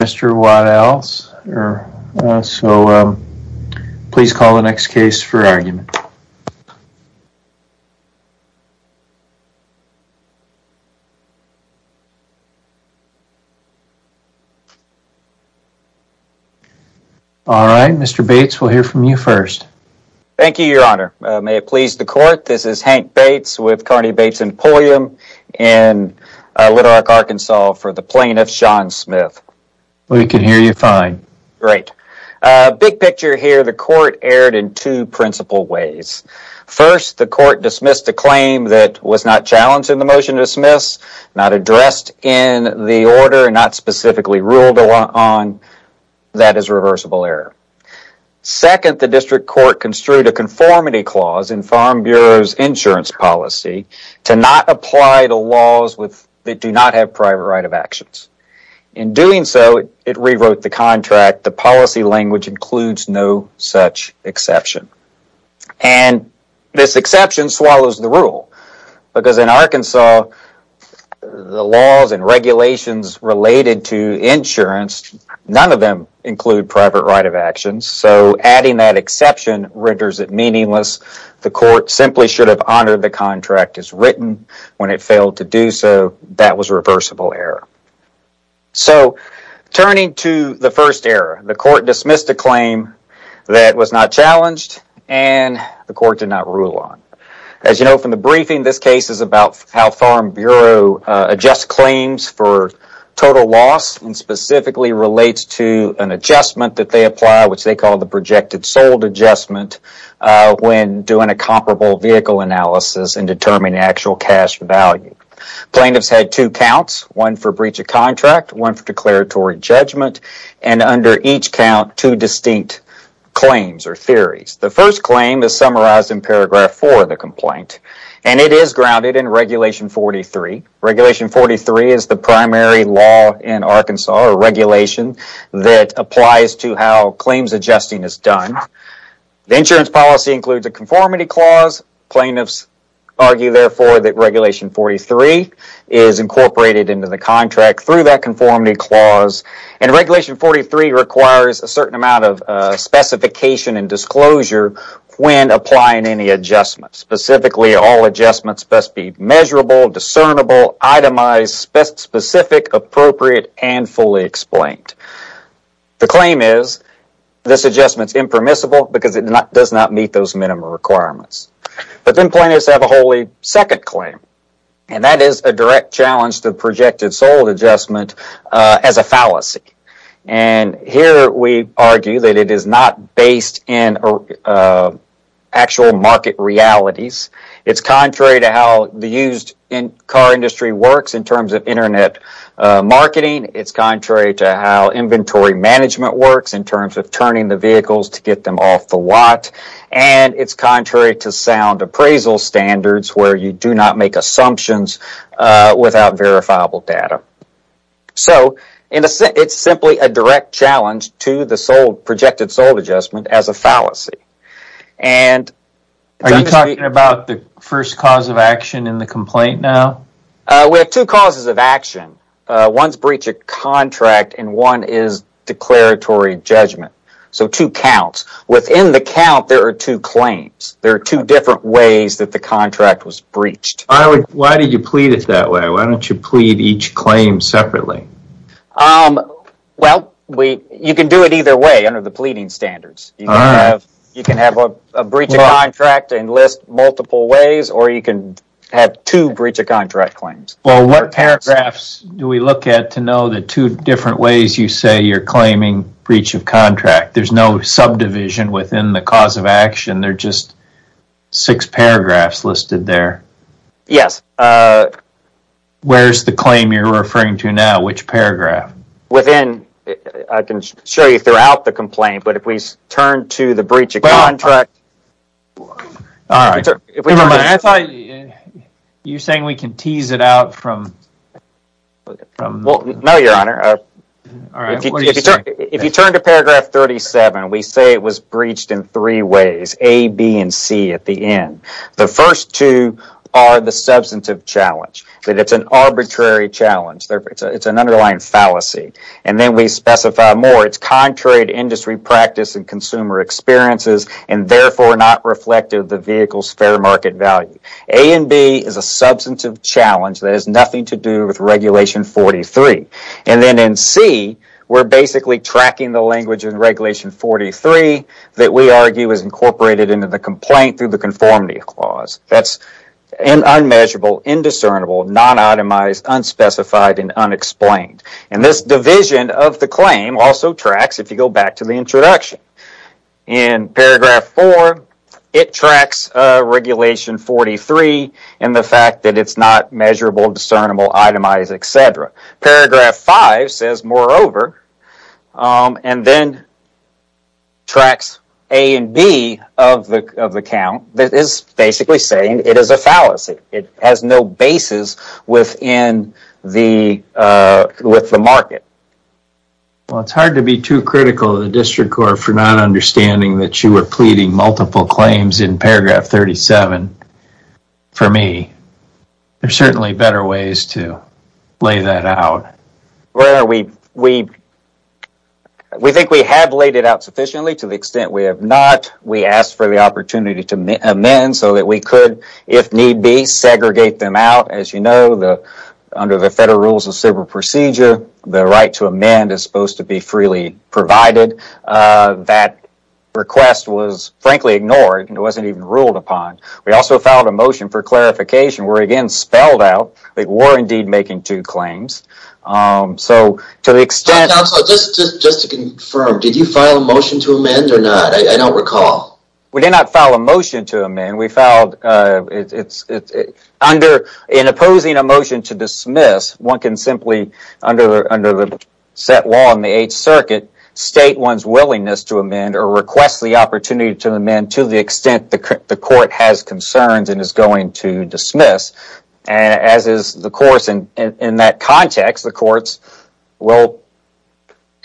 Mr. Waddell, please call the next case for argument. Mr. Bates, we'll hear from you first. Thank you, your honor. May it please the court, this is Hank Bates with Carney Bates Emporium in Little Rock, Arkansas for the plaintiff, Sean Smith. We can hear you fine. Great. Big picture here, the court erred in two principal ways. First, the court dismissed a claim that was not challenged in the motion to dismiss, not addressed in the order, not specifically ruled on. That is reversible error. Second, the district court construed a conformity clause in Farm Bureau's insurance policy to not apply the laws that do not have private right of actions. In doing so, it rewrote the contract. The policy language includes no such exception. And this exception swallows the rule, because in Arkansas, the laws and regulations related to insurance, none of them include private right of actions, so adding that exception renders it meaningless. The court simply should have honored the contract as written when it failed to do so. That was reversible error. So turning to the first error, the court dismissed a claim that was not challenged and the court did not rule on. As you know from the briefing, this case is about how Farm Bureau adjusts claims for total loss and specifically relates to an adjustment that they apply, which they call the projected sold adjustment when doing a comparable vehicle analysis and determining actual cash value. Plaintiffs had two counts, one for breach of contract, one for declaratory judgment, and under each count, two distinct claims or theories. The first claim is summarized in paragraph four of the complaint, and it is grounded in regulation 43. Regulation 43 is the primary law in Arkansas, or regulation, that applies to how claims adjusting is done. The insurance policy includes a conformity clause. Plaintiffs argue, therefore, that regulation 43 is incorporated into the contract through that conformity clause, and regulation 43 requires a certain amount of specification and disclosure when applying any adjustment. Specifically, all adjustments must be measurable, discernible, itemized, specific, appropriate, and fully explained. The claim is this adjustment is impermissible because it does not meet those minimum requirements. But then plaintiffs have a wholly second claim, and that is a direct challenge to the projected sold adjustment as a fallacy. And here we argue that it is not based in actual market realities. It's contrary to how the used car industry works in terms of Internet marketing. It's contrary to how inventory management works in terms of turning the vehicles to get them off the lot. And it's contrary to sound appraisal standards where you do not make assumptions without verifiable data. So it's simply a direct challenge to the projected sold adjustment as a fallacy. And... Are you talking about the first cause of action in the complaint now? We have two causes of action. One is breach of contract, and one is declaratory judgment. So two counts. Within the count, there are two claims. There are two different ways that the contract was breached. Why did you plead it that way? Why don't you plead each claim separately? Well, you can do it either way under the pleading standards. You can have a breach of contract and list multiple ways, or you can have two breach of contract claims. Well, what paragraphs do we look at to know the two different ways you say you're claiming breach of contract? There's no subdivision within the cause of action. They're just six paragraphs listed there. Yes. Where's the claim you're referring to now? Which paragraph? Within... I can show you throughout the complaint, but if we turn to the breach of contract... All right. I thought you were saying we can tease it out from... Well, no, Your Honor. If you turn to paragraph 37, we say it was breached in three ways, A, B, and C at the end. The first two are the substantive challenge, that it's an arbitrary challenge. It's an underlying fallacy. And then we specify more. It's contrary to industry practice and consumer experiences, and therefore not reflective of the vehicle's fair market value. A and B is a substantive challenge that has nothing to do with Regulation 43. And then in C, we're basically tracking the language in Regulation 43 that we argue is incorporated into the complaint through the conformity clause. That's unmeasurable, indiscernible, non-itemized, unspecified, and unexplained. And this division of the claim also tracks, if you go back to the introduction. In paragraph four, it tracks Regulation 43 and the fact that it's not measurable, discernible, itemized, et cetera. Paragraph five says, moreover, and then tracks A and B of the count that is basically saying it is a fallacy. It has no basis within the...with the market. Well, it's hard to be too critical of the District Court for not understanding that you are pleading multiple claims in paragraph 37. For me, there's certainly better ways to lay that out. Well, we think we have laid it out sufficiently to the extent we have not. We asked for the opportunity to amend so that we could, if need be, segregate them out. As you know, under the Federal Rules of Civil Procedure, the right to amend is supposed to be freely provided. That request was, frankly, ignored and it wasn't even ruled upon. We also filed a motion for clarification where, again, spelled out that we're indeed making two claims. So to the extent... Counsel, just to confirm, did you file a motion to amend or not? I don't recall. We did not file a motion to amend. We filed... In opposing a motion to dismiss, one can simply, under the set law in the Eighth Circuit, state one's willingness to amend or request the opportunity to amend to the extent the court has concerns and is going to dismiss. As is the course in that context, the courts will,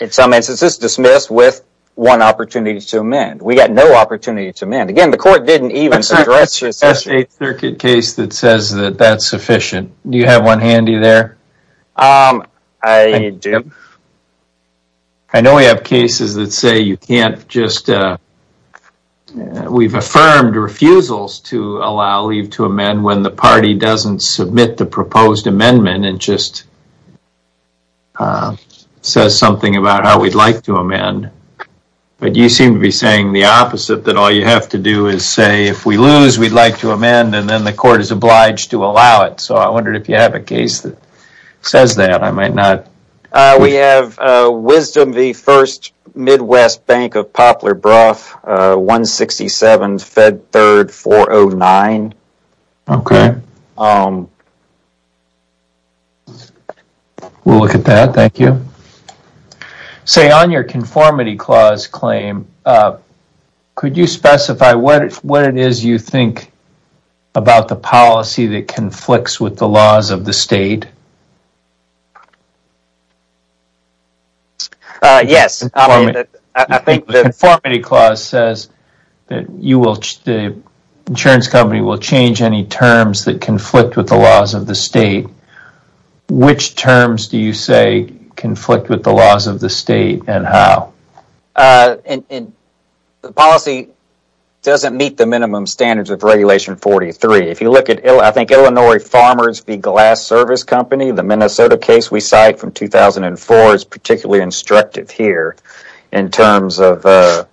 in some instances, dismiss with one opportunity to amend. We got no opportunity to amend. Again, the court didn't even address... That's an Eighth Circuit case that says that that's sufficient. Do you have one handy there? I do. I know we have cases that say you can't just... We've affirmed refusals to allow leave to amend when the party doesn't submit the proposed amendment and just says something about how we'd like to amend, but you seem to be saying the opposite, that all you have to do is say, if we lose, we'd like to amend, and then the court is obliged to allow it. So I wondered if you have a case that says that. I might not... We have Wisdom v. First Midwest Bank of Poplar Brough, 167 Fed 3rd 409. Okay. We'll look at that, thank you. Say, on your conformity clause claim, could you specify what it is you think about the policy that conflicts with the laws of the state? Yes, I mean, I think that... The conformity clause says that the insurance company will change any terms that conflict with the laws of the state. Which terms do you say conflict with the laws of the state and how? The policy doesn't meet the minimum standards of Regulation 43. If you look at, I think, Illinois Farmers v. Glass Service Company, the Minnesota case we cite from 2004 is particularly instructive here in terms of the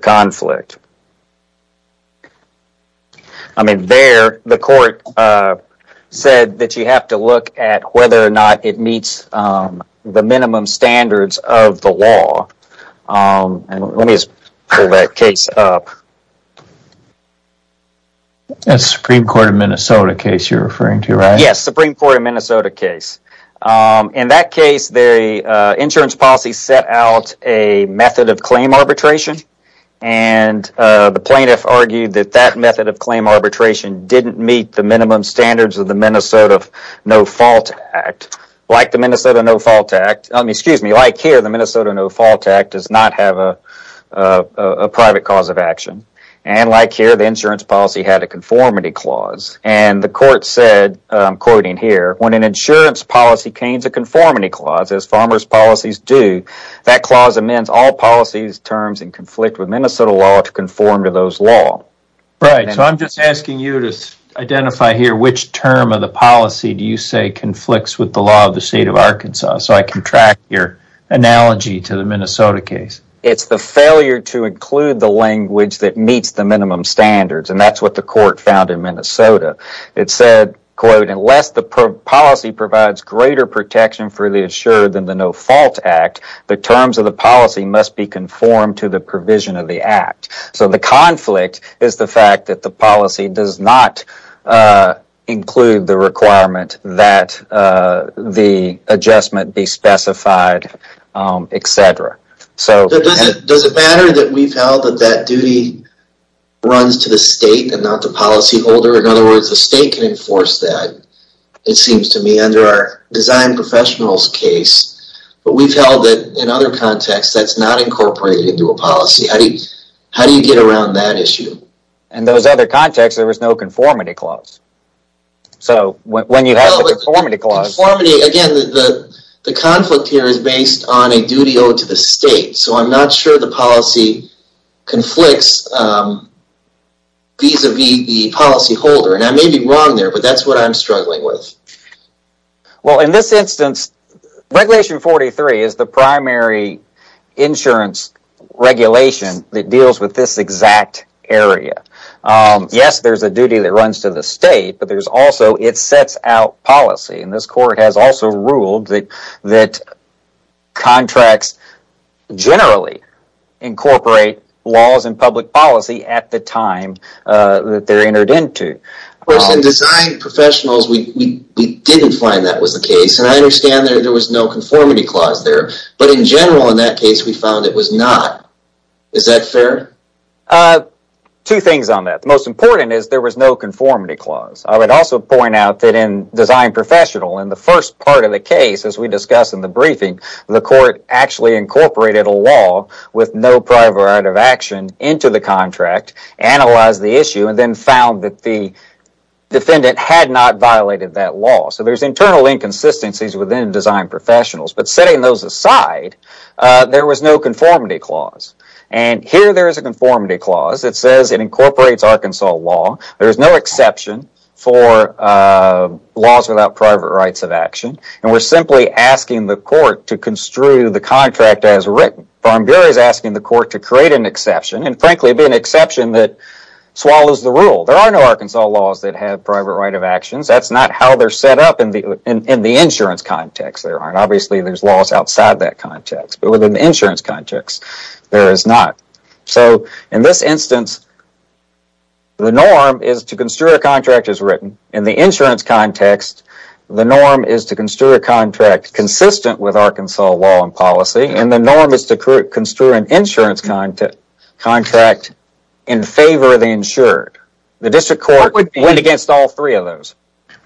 conflict. I mean, there, the court said that you have to look at whether or not it meets the minimum standards of the law, and let me just pull that case up. That's Supreme Court of Minnesota case you're referring to, right? Yes, Supreme Court of Minnesota case. In that case, the insurance policy set out a method of claim arbitration, and the plaintiff argued that that method of claim arbitration didn't meet the minimum standards of the Minnesota No-Fault Act. Like the Minnesota No-Fault Act, excuse me, like here, the Minnesota No-Fault Act does not have a private cause of action. And like here, the insurance policy had a conformity clause. And the court said, I'm quoting here, when an insurance policy contains a conformity clause, as farmers' policies do, that clause amends all policies, terms, and conflict with Minnesota law to conform to those laws. Right, so I'm just asking you to identify here which term of the policy do you say conflicts with the law of the state of Arkansas so I can track your analogy to the Minnesota case. It's the failure to include the language that meets the minimum standards, and that's what the court found in Minnesota. It said, quote, unless the policy provides greater protection for the insured than the No-Fault Act, the terms of the policy must be conformed to the provision of the act. So the conflict is the fact that the policy does not include the requirement that the adjustment be specified, et cetera. Does it matter that we've held that that duty runs to the state and not the policyholder? In other words, the state can enforce that, it seems to me, under our design professionals' case. But we've held that in other contexts, that's not incorporated into a policy. How do you get around that issue? In those other contexts, there was no conformity clause. So when you have the conformity clause... Again, the conflict here is based on a duty owed to the state, so I'm not sure the policy conflicts vis-a-vis the policyholder. And I may be wrong there, but that's what I'm struggling with. Well in this instance, Regulation 43 is the primary insurance regulation that deals with this exact area. Yes, there's a duty that runs to the state, but there's also, it sets out policy, and this court has also ruled that contracts generally incorporate laws and public policy at the time that they're entered into. Of course, in design professionals, we didn't find that was the case, and I understand there was no conformity clause there, but in general in that case, we found it was not. Is that fair? Two things on that. The most important is there was no conformity clause. I would also point out that in design professional, in the first part of the case, as we discussed in the briefing, the court actually incorporated a law with no prior variety of action into the contract, analyzed the issue, and then found that the defendant had not violated that law. So there's internal inconsistencies within design professionals, but setting those aside, there was no conformity clause. And here there is a conformity clause that says it incorporates Arkansas law. There is no exception for laws without private rights of action, and we're simply asking the court to construe the contract as written. Farm Bureau is asking the court to create an exception, and frankly, be an exception that swallows the rule. There are no Arkansas laws that have private right of actions. That's not how they're set up in the insurance context. There aren't. Obviously, there's laws outside that context, but within the insurance context, there is not. So in this instance, the norm is to construe a contract as written. In the insurance context, the norm is to construe a contract consistent with Arkansas law and policy, and the norm is to construe an insurance contract in favor of the insured. The district court went against all three of those.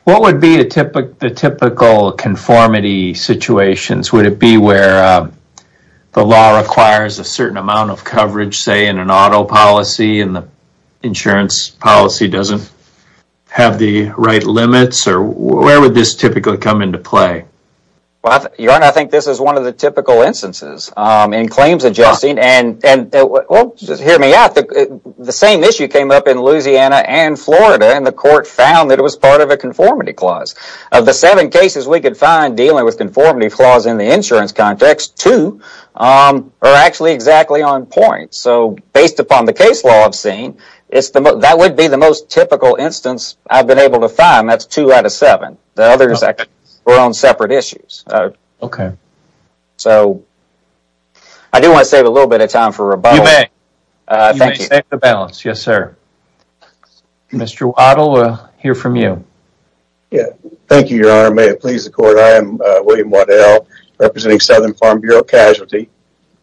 What would be the typical conformity situations? Would it be where the law requires a certain amount of coverage, say, in an auto policy, and the insurance policy doesn't have the right limits, or where would this typically come into play? Your Honor, I think this is one of the typical instances in claims adjusting, and just hear me out. The same issue came up in Louisiana and Florida, and the court found that it was part of a conformity clause. Of the seven cases we could find dealing with conformity clause in the insurance context, two are actually exactly on point. So based upon the case law I've seen, that would be the most typical instance I've been able to find. That's two out of seven. The others were on separate issues. So I do want to save a little bit of time for rebuttal. You may. Thank you. You may save the balance. Yes, sir. Mr. Waddell, we'll hear from you. Thank you, Your Honor. May it please the court. I am William Waddell, representing Southern Farm Bureau Casualty,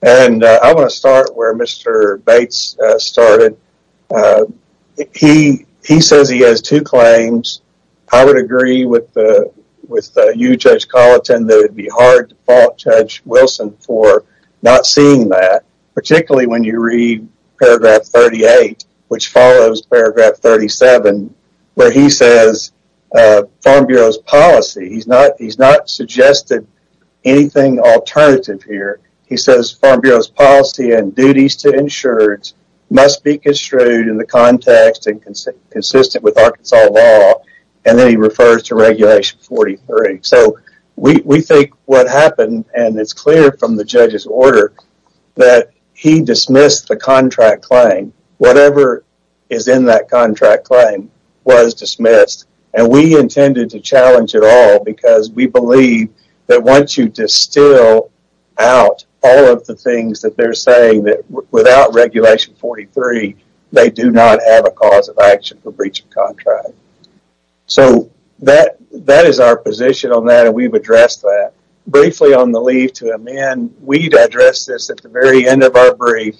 and I want to start where Mr. Bates started. He says he has two claims. I would agree with you, Judge Colleton, that it would be hard to fault Judge Wilson for not seeing that, particularly when you read paragraph 38, which follows paragraph 37, where he says Farm Bureau's policy, he's not suggested anything alternative here. He says Farm Bureau's policy and duties to insurers must be construed in the context and consistent with Arkansas law, and then he refers to Regulation 43. So we think what happened, and it's clear from the judge's order, that he dismissed the contract claim. Whatever is in that contract claim was dismissed, and we intended to challenge it all because we believe that once you distill out all of the things that they're saying, that without Regulation 43, they do not have a cause of action for breach of contract. So that is our position on that, and we've addressed that. Briefly on the leave to amend, we've addressed this at the very end of our brief,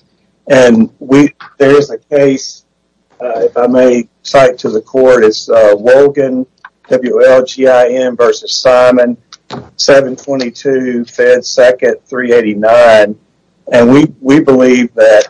and there is a case, if I may cite to the court, it's Wolgin, W-L-G-I-N versus Simon, 722 Fed 2nd, 389, and we believe that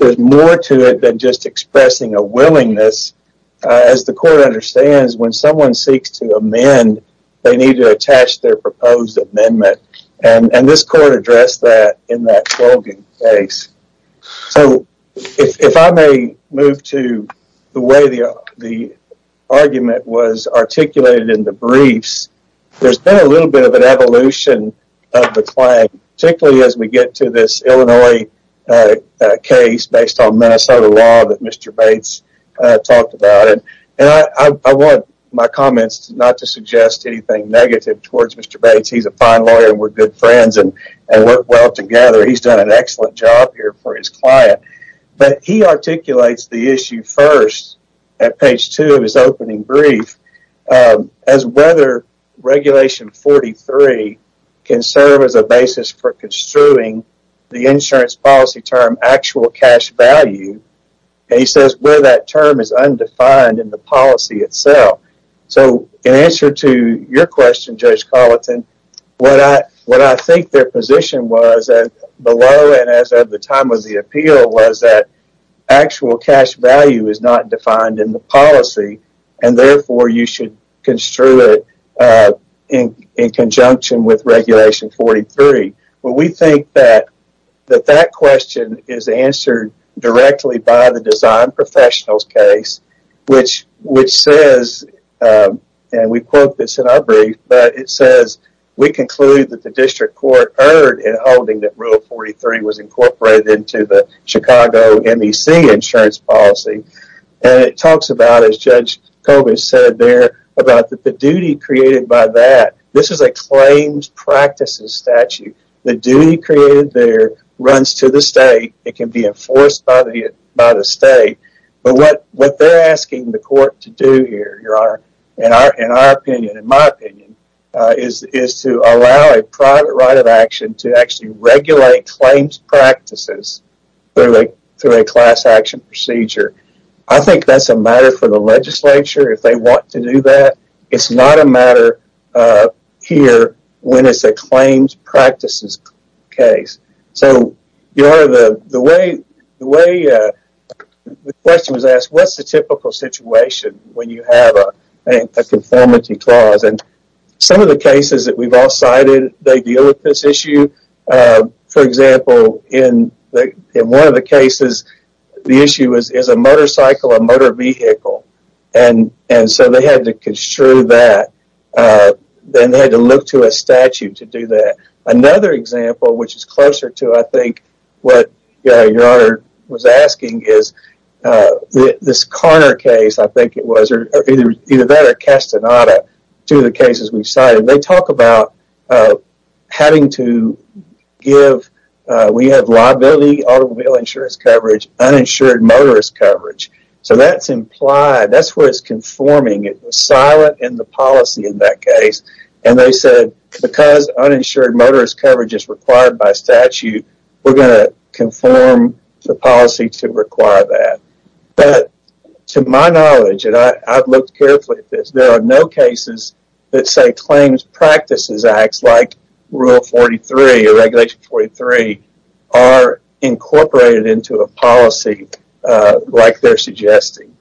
there's more to it than just expressing a willingness. As the court understands, when someone seeks to amend, they need to attach their proposed amendment, and this court addressed that in that Wolgin case. So if I may move to the way the argument was articulated in the briefs, there's been a little bit of an evolution of the claim, particularly as we get to this Illinois case based on Minnesota law that Mr. Bates talked about, and I want my comments not to suggest anything negative towards Mr. Bates. He's a fine lawyer and we're good friends and work well together. He's done an excellent job here for his client, but he articulates the issue first at page two of his opening brief as whether Regulation 43 can serve as a basis for construing the policy. And he says where that term is undefined in the policy itself. So in answer to your question, Judge Carlton, what I think their position was below and as of the time of the appeal was that actual cash value is not defined in the policy, and therefore you should construe it in conjunction with Regulation 43. Well, we think that that question is answered directly by the Design Professionals case, which says, and we quote this in our brief, but it says, we conclude that the district court erred in holding that Rule 43 was incorporated into the Chicago MEC insurance policy. And it talks about, as Judge Kobisch said there, about the duty created by that. This is a claims practices statute. The duty created there runs to the state. It can be enforced by the state. But what they're asking the court to do here, in our opinion, in my opinion, is to allow a private right of action to actually regulate claims practices through a class action procedure. I think that's a matter for the legislature if they want to do that. It's not a matter here when it's a claims practices case. So the way the question was asked, what's the typical situation when you have a conformity clause? And some of the cases that we've all cited, they deal with this issue. For example, in one of the cases, the issue is a motorcycle, a motor vehicle. And so they had to construe that. Then they had to look to a statute to do that. Another example, which is closer to, I think, what your Honor was asking, is this Carner case, I think it was, or either that or Castaneda, two of the cases we've cited. They talk about having to give, we have liability automobile insurance coverage, uninsured motorist coverage. So that's implied, that's where it's conforming, it's silent in the policy in that case. And they said because uninsured motorist coverage is required by statute, we're going to conform the policy to require that. But to my knowledge, and I've looked carefully at this, there are no cases that say claims practices acts, like Rule 43, or Regulation 43, are incorporated into a policy like they're suggesting.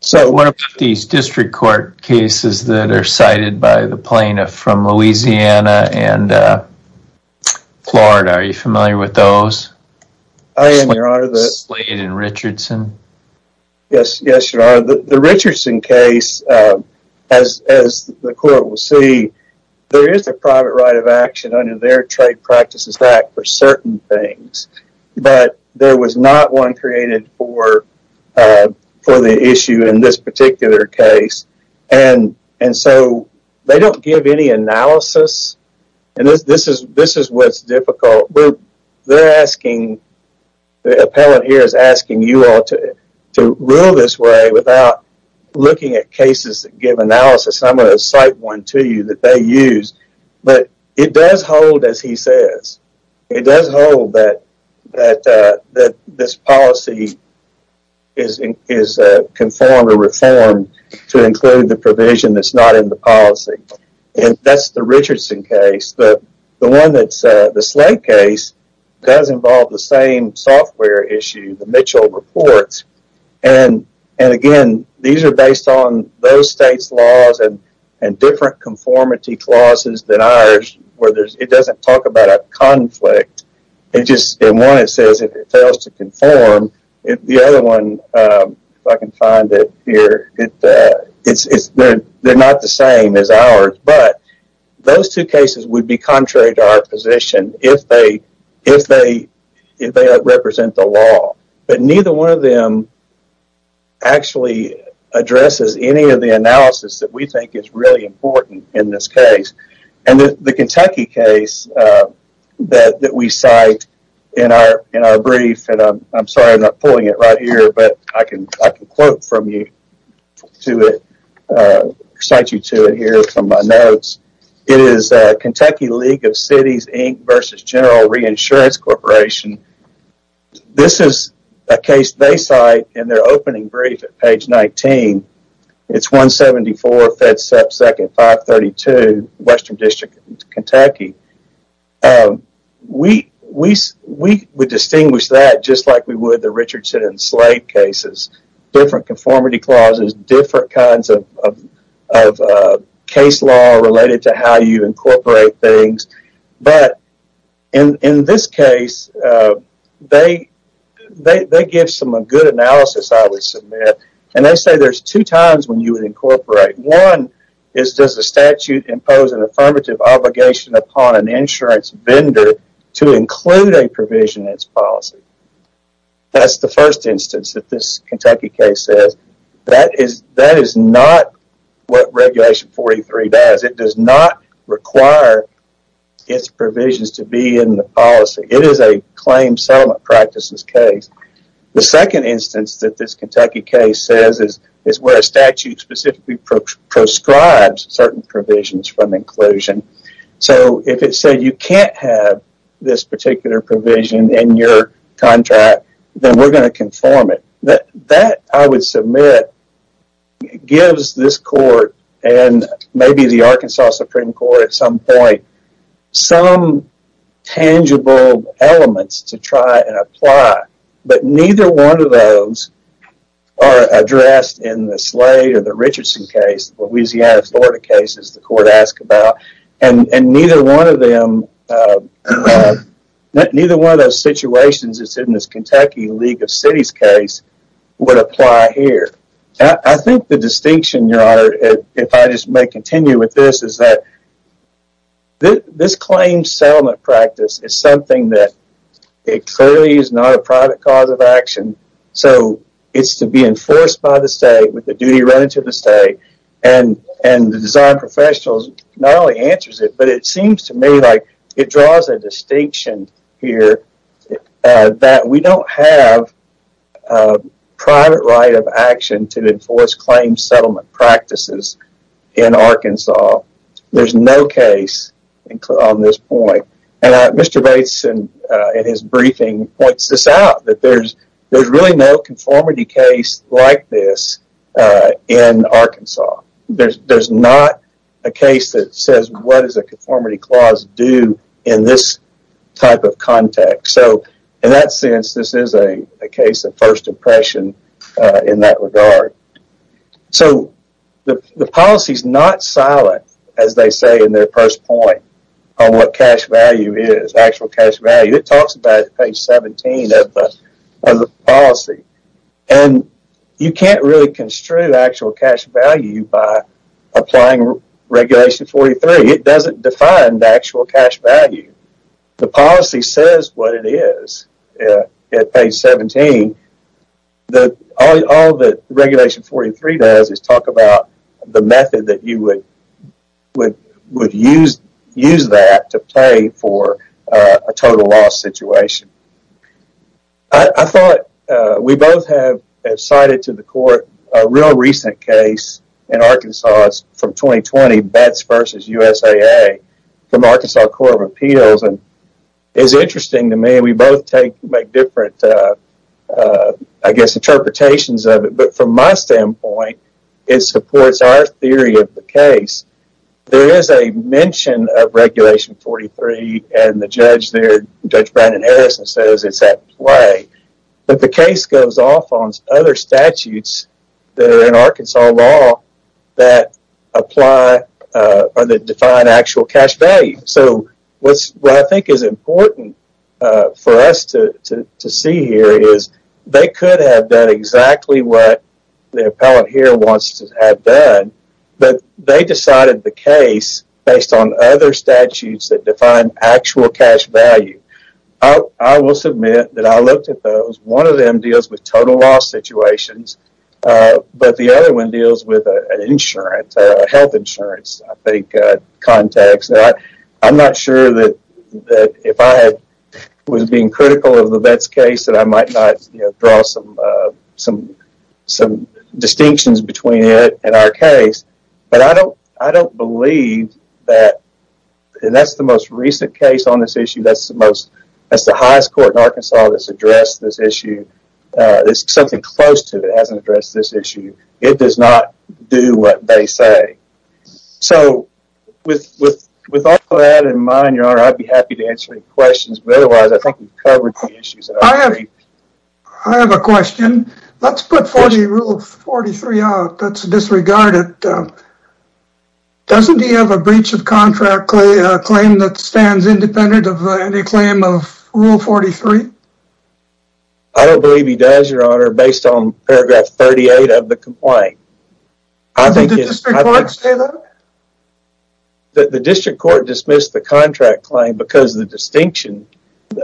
So what about these district court cases that are cited by the plaintiff from Louisiana and Florida, are you familiar with those? I am, your Honor. Slade and Richardson? Yes, your Honor. The Richardson case, as the court will see, there is a private right of action under their Trade Practices Act for certain things, but there was not one created for the issue in this particular case. And so they don't give any analysis, and this is what's difficult. They're asking, the appellant here is asking you all to rule this way without looking at cases that give analysis, and I'm going to cite one to you that they use. But it does hold, as he says, it does hold that this policy is conform or reform to include the provision that's not in the policy. And that's the Richardson case. The one that's, the Slade case, does involve the same software issue, the Mitchell reports, and again, these are based on those states' laws and different conformity clauses than ours where it doesn't talk about a conflict, it just, in one it says if it fails to conform, the other one, if I can find it here, they're not the same as ours, but those two cases would be contrary to our position if they represent the law. But neither one of them actually addresses any of the analysis that we think is really important in this case. And the Kentucky case that we cite in our brief, and I'm sorry I'm not pulling it right here, but I can quote from you to it, cite you to it here from my notes, it is Kentucky League of Cities Inc. vs. General Reinsurance Corporation. This is a case they cite in their opening brief at page 19. It's 174 FedSep 2nd 532, Western District, Kentucky. We would distinguish that just like we would the Richardson and Slade cases. Different conformity clauses, different kinds of case law related to how you incorporate things, but in this case, they give some good analysis, I would submit, and they say there's two times when you would incorporate. One is does the statute impose an affirmative obligation upon an insurance vendor to include a provision in its policy? That's the first instance that this Kentucky case says. That is not what Regulation 43 does. It does not require its provisions to be in the policy. It is a claim settlement practices case. The second instance that this Kentucky case says is where a statute specifically proscribes certain provisions from inclusion. So if it said you can't have this particular provision in your contract, then we're going to conform it. That I would submit gives this court and maybe the Arkansas Supreme Court at some point some tangible elements to try and apply, but neither one of those are addressed in the Slade or the Richardson case, the Louisiana, Florida cases the court asked about, and neither one of them, neither one of those situations that's in this Kentucky League of Cities case would apply here. I think the distinction, Your Honor, if I just may continue with this, is that this claim settlement practice is something that it clearly is not a private cause of action. So it's to be enforced by the state with the duty rented to the state, and the design professional not only answers it, but it seems to me like it draws a distinction here that we don't have a private right of action to enforce claim settlement practices in Arkansas. There's no case on this point. And Mr. Bates in his briefing points this out, that there's really no conformity case like this in Arkansas. There's not a case that says what does a conformity clause do in this type of context. So in that sense, this is a case of first impression in that regard. So the policy's not silent, as they say in their first point, on what cash value is, actual cash value. It talks about it at page 17 of the policy. And you can't really construe actual cash value by applying Regulation 43. It doesn't define the actual cash value. The policy says what it is at page 17. All that Regulation 43 does is talk about the method that you would use that to pay for a total loss situation. I thought we both have cited to the court a real recent case in Arkansas from 2020, Bates v. USAA, from Arkansas Court of Appeals. And it's interesting to me. We both make different, I guess, interpretations of it. But from my standpoint, it supports our theory of the case. There is a mention of Regulation 43. And the judge there, Judge Brandon Harrison, says it's at play. But the case goes off on other statutes that are in Arkansas law that apply or that define actual cash value. So what I think is important for us to see here is they could have done exactly what the appellant here wants to have done. But they decided the case based on other statutes that define actual cash value. I will submit that I looked at those. One of them deals with total loss situations. But the other one deals with health insurance, I think, context. I'm not sure that if I was being critical of the Bates case that I might not draw some distinctions between it and our case. But I don't believe that, and that's the most recent case on this issue. That's the highest court in Arkansas that's addressed this issue. There's something close to it that hasn't addressed this issue. It does not do what they say. So with all of that in mind, Your Honor, I'd be happy to answer any questions. But otherwise, I think we've covered the issues. I have a question. Let's put 4G Rule 43 out. That's disregarded. But doesn't he have a breach of contract claim that stands independent of any claim of Rule 43? I don't believe he does, Your Honor, based on paragraph 38 of the complaint. I think the district court dismissed the contract claim because the distinction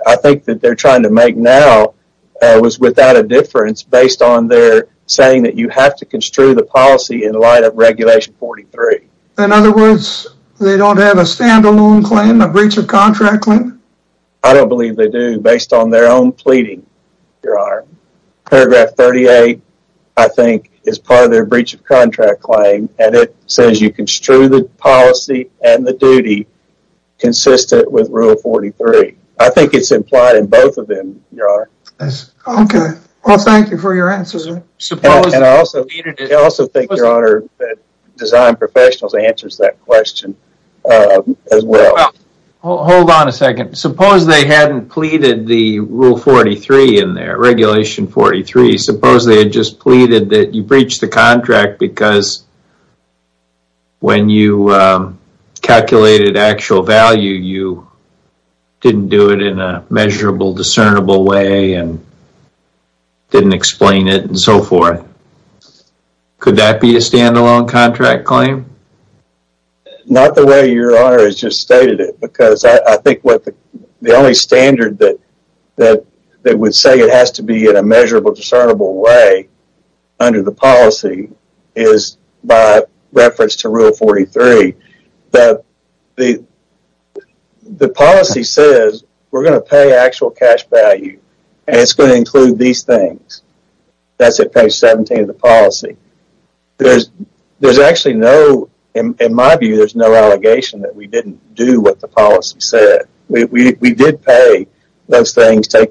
I think that they're trying to make now was without a difference based on their saying that you have to construe the policy in light of Regulation 43. In other words, they don't have a standalone claim, a breach of contract claim? I don't believe they do, based on their own pleading, Your Honor. Paragraph 38, I think, is part of their breach of contract claim. And it says you construe the policy and the duty consistent with Rule 43. I think it's implied in both of them, Your Honor. Okay. Well, thank you for your answers. And I also think, Your Honor, that Design Professionals answers that question as well. Hold on a second. Suppose they hadn't pleaded the Rule 43 in there, Regulation 43. Suppose they had just pleaded that you breached the contract because when you calculated actual value, you didn't do it in a measurable, discernible way. And didn't explain it and so forth. Could that be a standalone contract claim? Not the way Your Honor has just stated it. Because I think what the only standard that would say it has to be in a measurable, discernible way under the policy is by reference to Rule 43. The policy says we're going to pay actual cash value. And it's going to include these things. That's at page 17 of the policy. There's actually no, in my view, there's no allegation that we didn't do what the policy said. We did pay those things, pay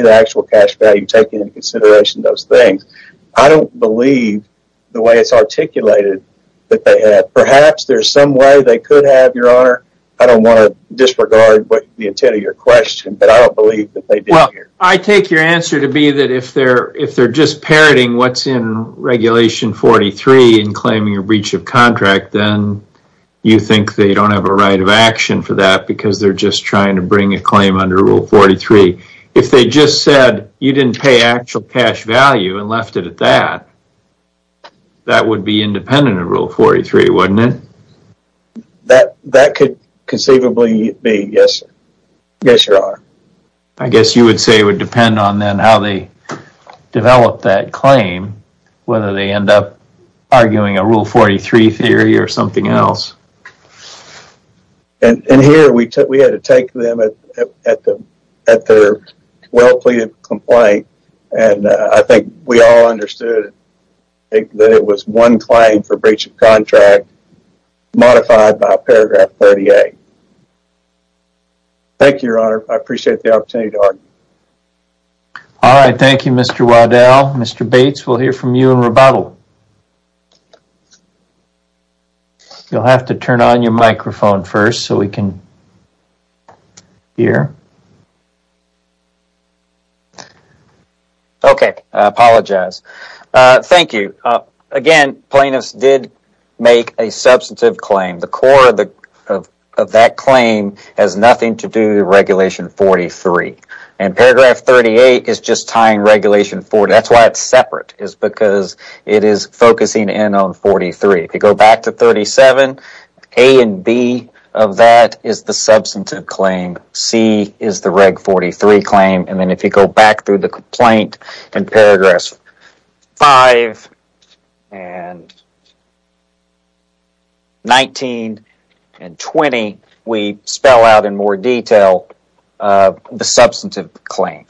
the actual cash value, taking into consideration those things. I don't believe the way it's articulated that they have. Perhaps there's some way they could have, Your Honor. I don't want to disregard the intent of your question, but I don't believe that they did. Well, I take your answer to be that if they're just parroting what's in Regulation 43 and claiming a breach of contract, then you think they don't have a right of action for that because they're just trying to bring a claim under Rule 43. If they just said you didn't pay actual cash value and left it at that, that would be independent of Rule 43, wouldn't it? That could conceivably be, yes, Your Honor. I guess you would say it would depend on then how they develop that claim, whether they end up arguing a Rule 43 theory or something else. And here, we had to take them at their well-pleaded complaint, and I think we all understood that it was one claim for breach of contract modified by Paragraph 38. Thank you, Your Honor. I appreciate the opportunity to argue. All right. Thank you, Mr. Waddell. Mr. Bates, we'll hear from you in rebuttal. You'll have to turn on your microphone first so we can hear. Okay. I apologize. Thank you. Again, plaintiffs did make a substantive claim. The core of that claim has nothing to do with Regulation 43. And Paragraph 38 is just tying Regulation 43. That's why it's separate is because it is focusing in on 43. If you go back to 37, A and B of that is the substantive claim. C is the Reg 43 claim. And then if you go back through the complaint in Paragraphs 5 and 19 and 20, we spell out in more detail the substantive claim.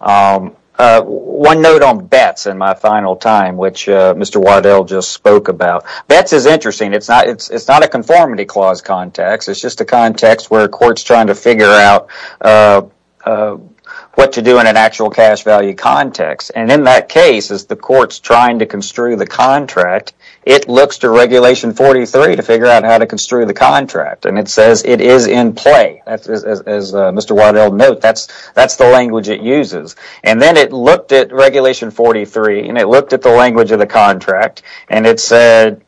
One note on Betts in my final time, which Mr. Waddell just spoke about. Betts is interesting. It's not a conformity clause context. It's just a context where a court's trying to figure out what to do in an actual cash value context. And in that case, as the court's trying to construe the contract, it looks to Regulation 43 to figure out how to construe the contract. And it says it is in play. As Mr. Waddell noted, that's the language it uses. And then it looked at Regulation 43, and it looked at the language of the contract, and it said,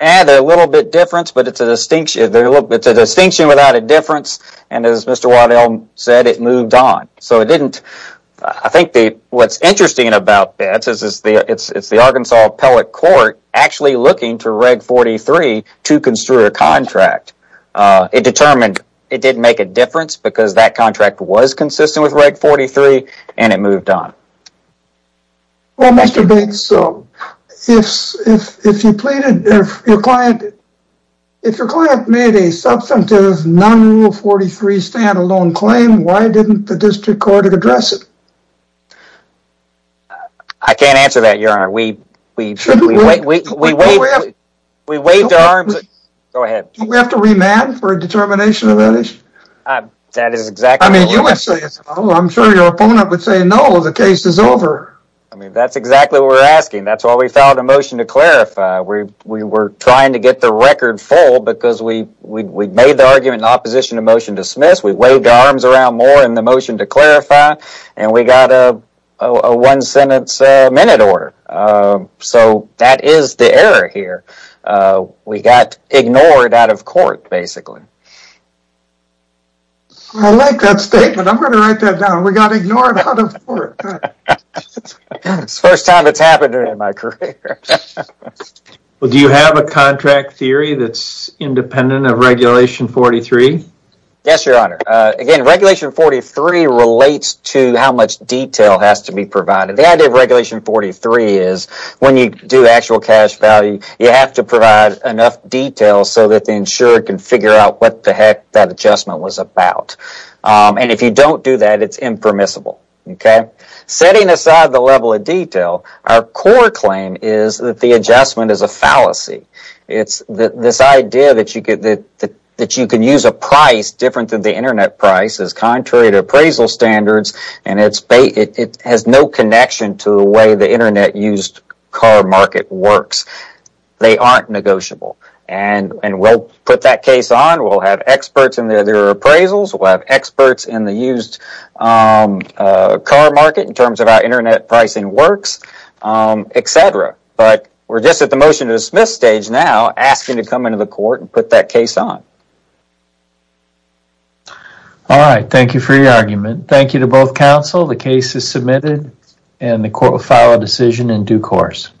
eh, they're a little bit different, but it's a distinction without a difference. And as Mr. Waddell said, it moved on. So it didn't. I think what's interesting about Betts is it's the Arkansas Appellate Court actually looking to Reg 43 to construe a contract. It determined it didn't make a difference because that contract was consistent with Reg 43, and it moved on. Well, Mr. Betts, if your client made a substantive non-Rule 43 stand-alone claim, why didn't the district court address it? I can't answer that, Your Honor. We waved our arms. Go ahead. Do we have to remand for a determination of that issue? That is exactly what I'm asking. I mean, you would say it's wrong. I'm sure your opponent would say, no, the case is over. I mean, that's exactly what we're asking. That's why we filed a motion to clarify. We were trying to get the record full because we made the argument in opposition to motion dismissed, we waved our arms around more in the motion to clarify, and we got a one-sentence minute order. So that is the error here. We got ignored out of court, basically. I like that statement. I'm going to write that down. We got ignored out of court. It's the first time it's happened in my career. Well, do you have a contract theory that's independent of Regulation 43? Yes, Your Honor. Again, Regulation 43 relates to how much detail has to be provided. The idea of Regulation 43 is when you do actual cash value, you have to provide enough detail so that the insurer can figure out what the heck that adjustment was about. If you don't do that, it's impermissible. Setting aside the level of detail, our core claim is that the adjustment is a fallacy. It's this idea that you can use a price different than the Internet price is contrary to appraisal standards, and it has no connection to the way the Internet-used car market works. They aren't negotiable. We'll put that case on. We'll have experts in their appraisals. We'll have experts in the used car market in terms of how Internet pricing works, etc. But we're just at the motion to dismiss stage now, asking to come into the court and put that case on. All right. Thank you for your argument. Thank you to both counsel. The case is submitted, and the court will file a decision in due course.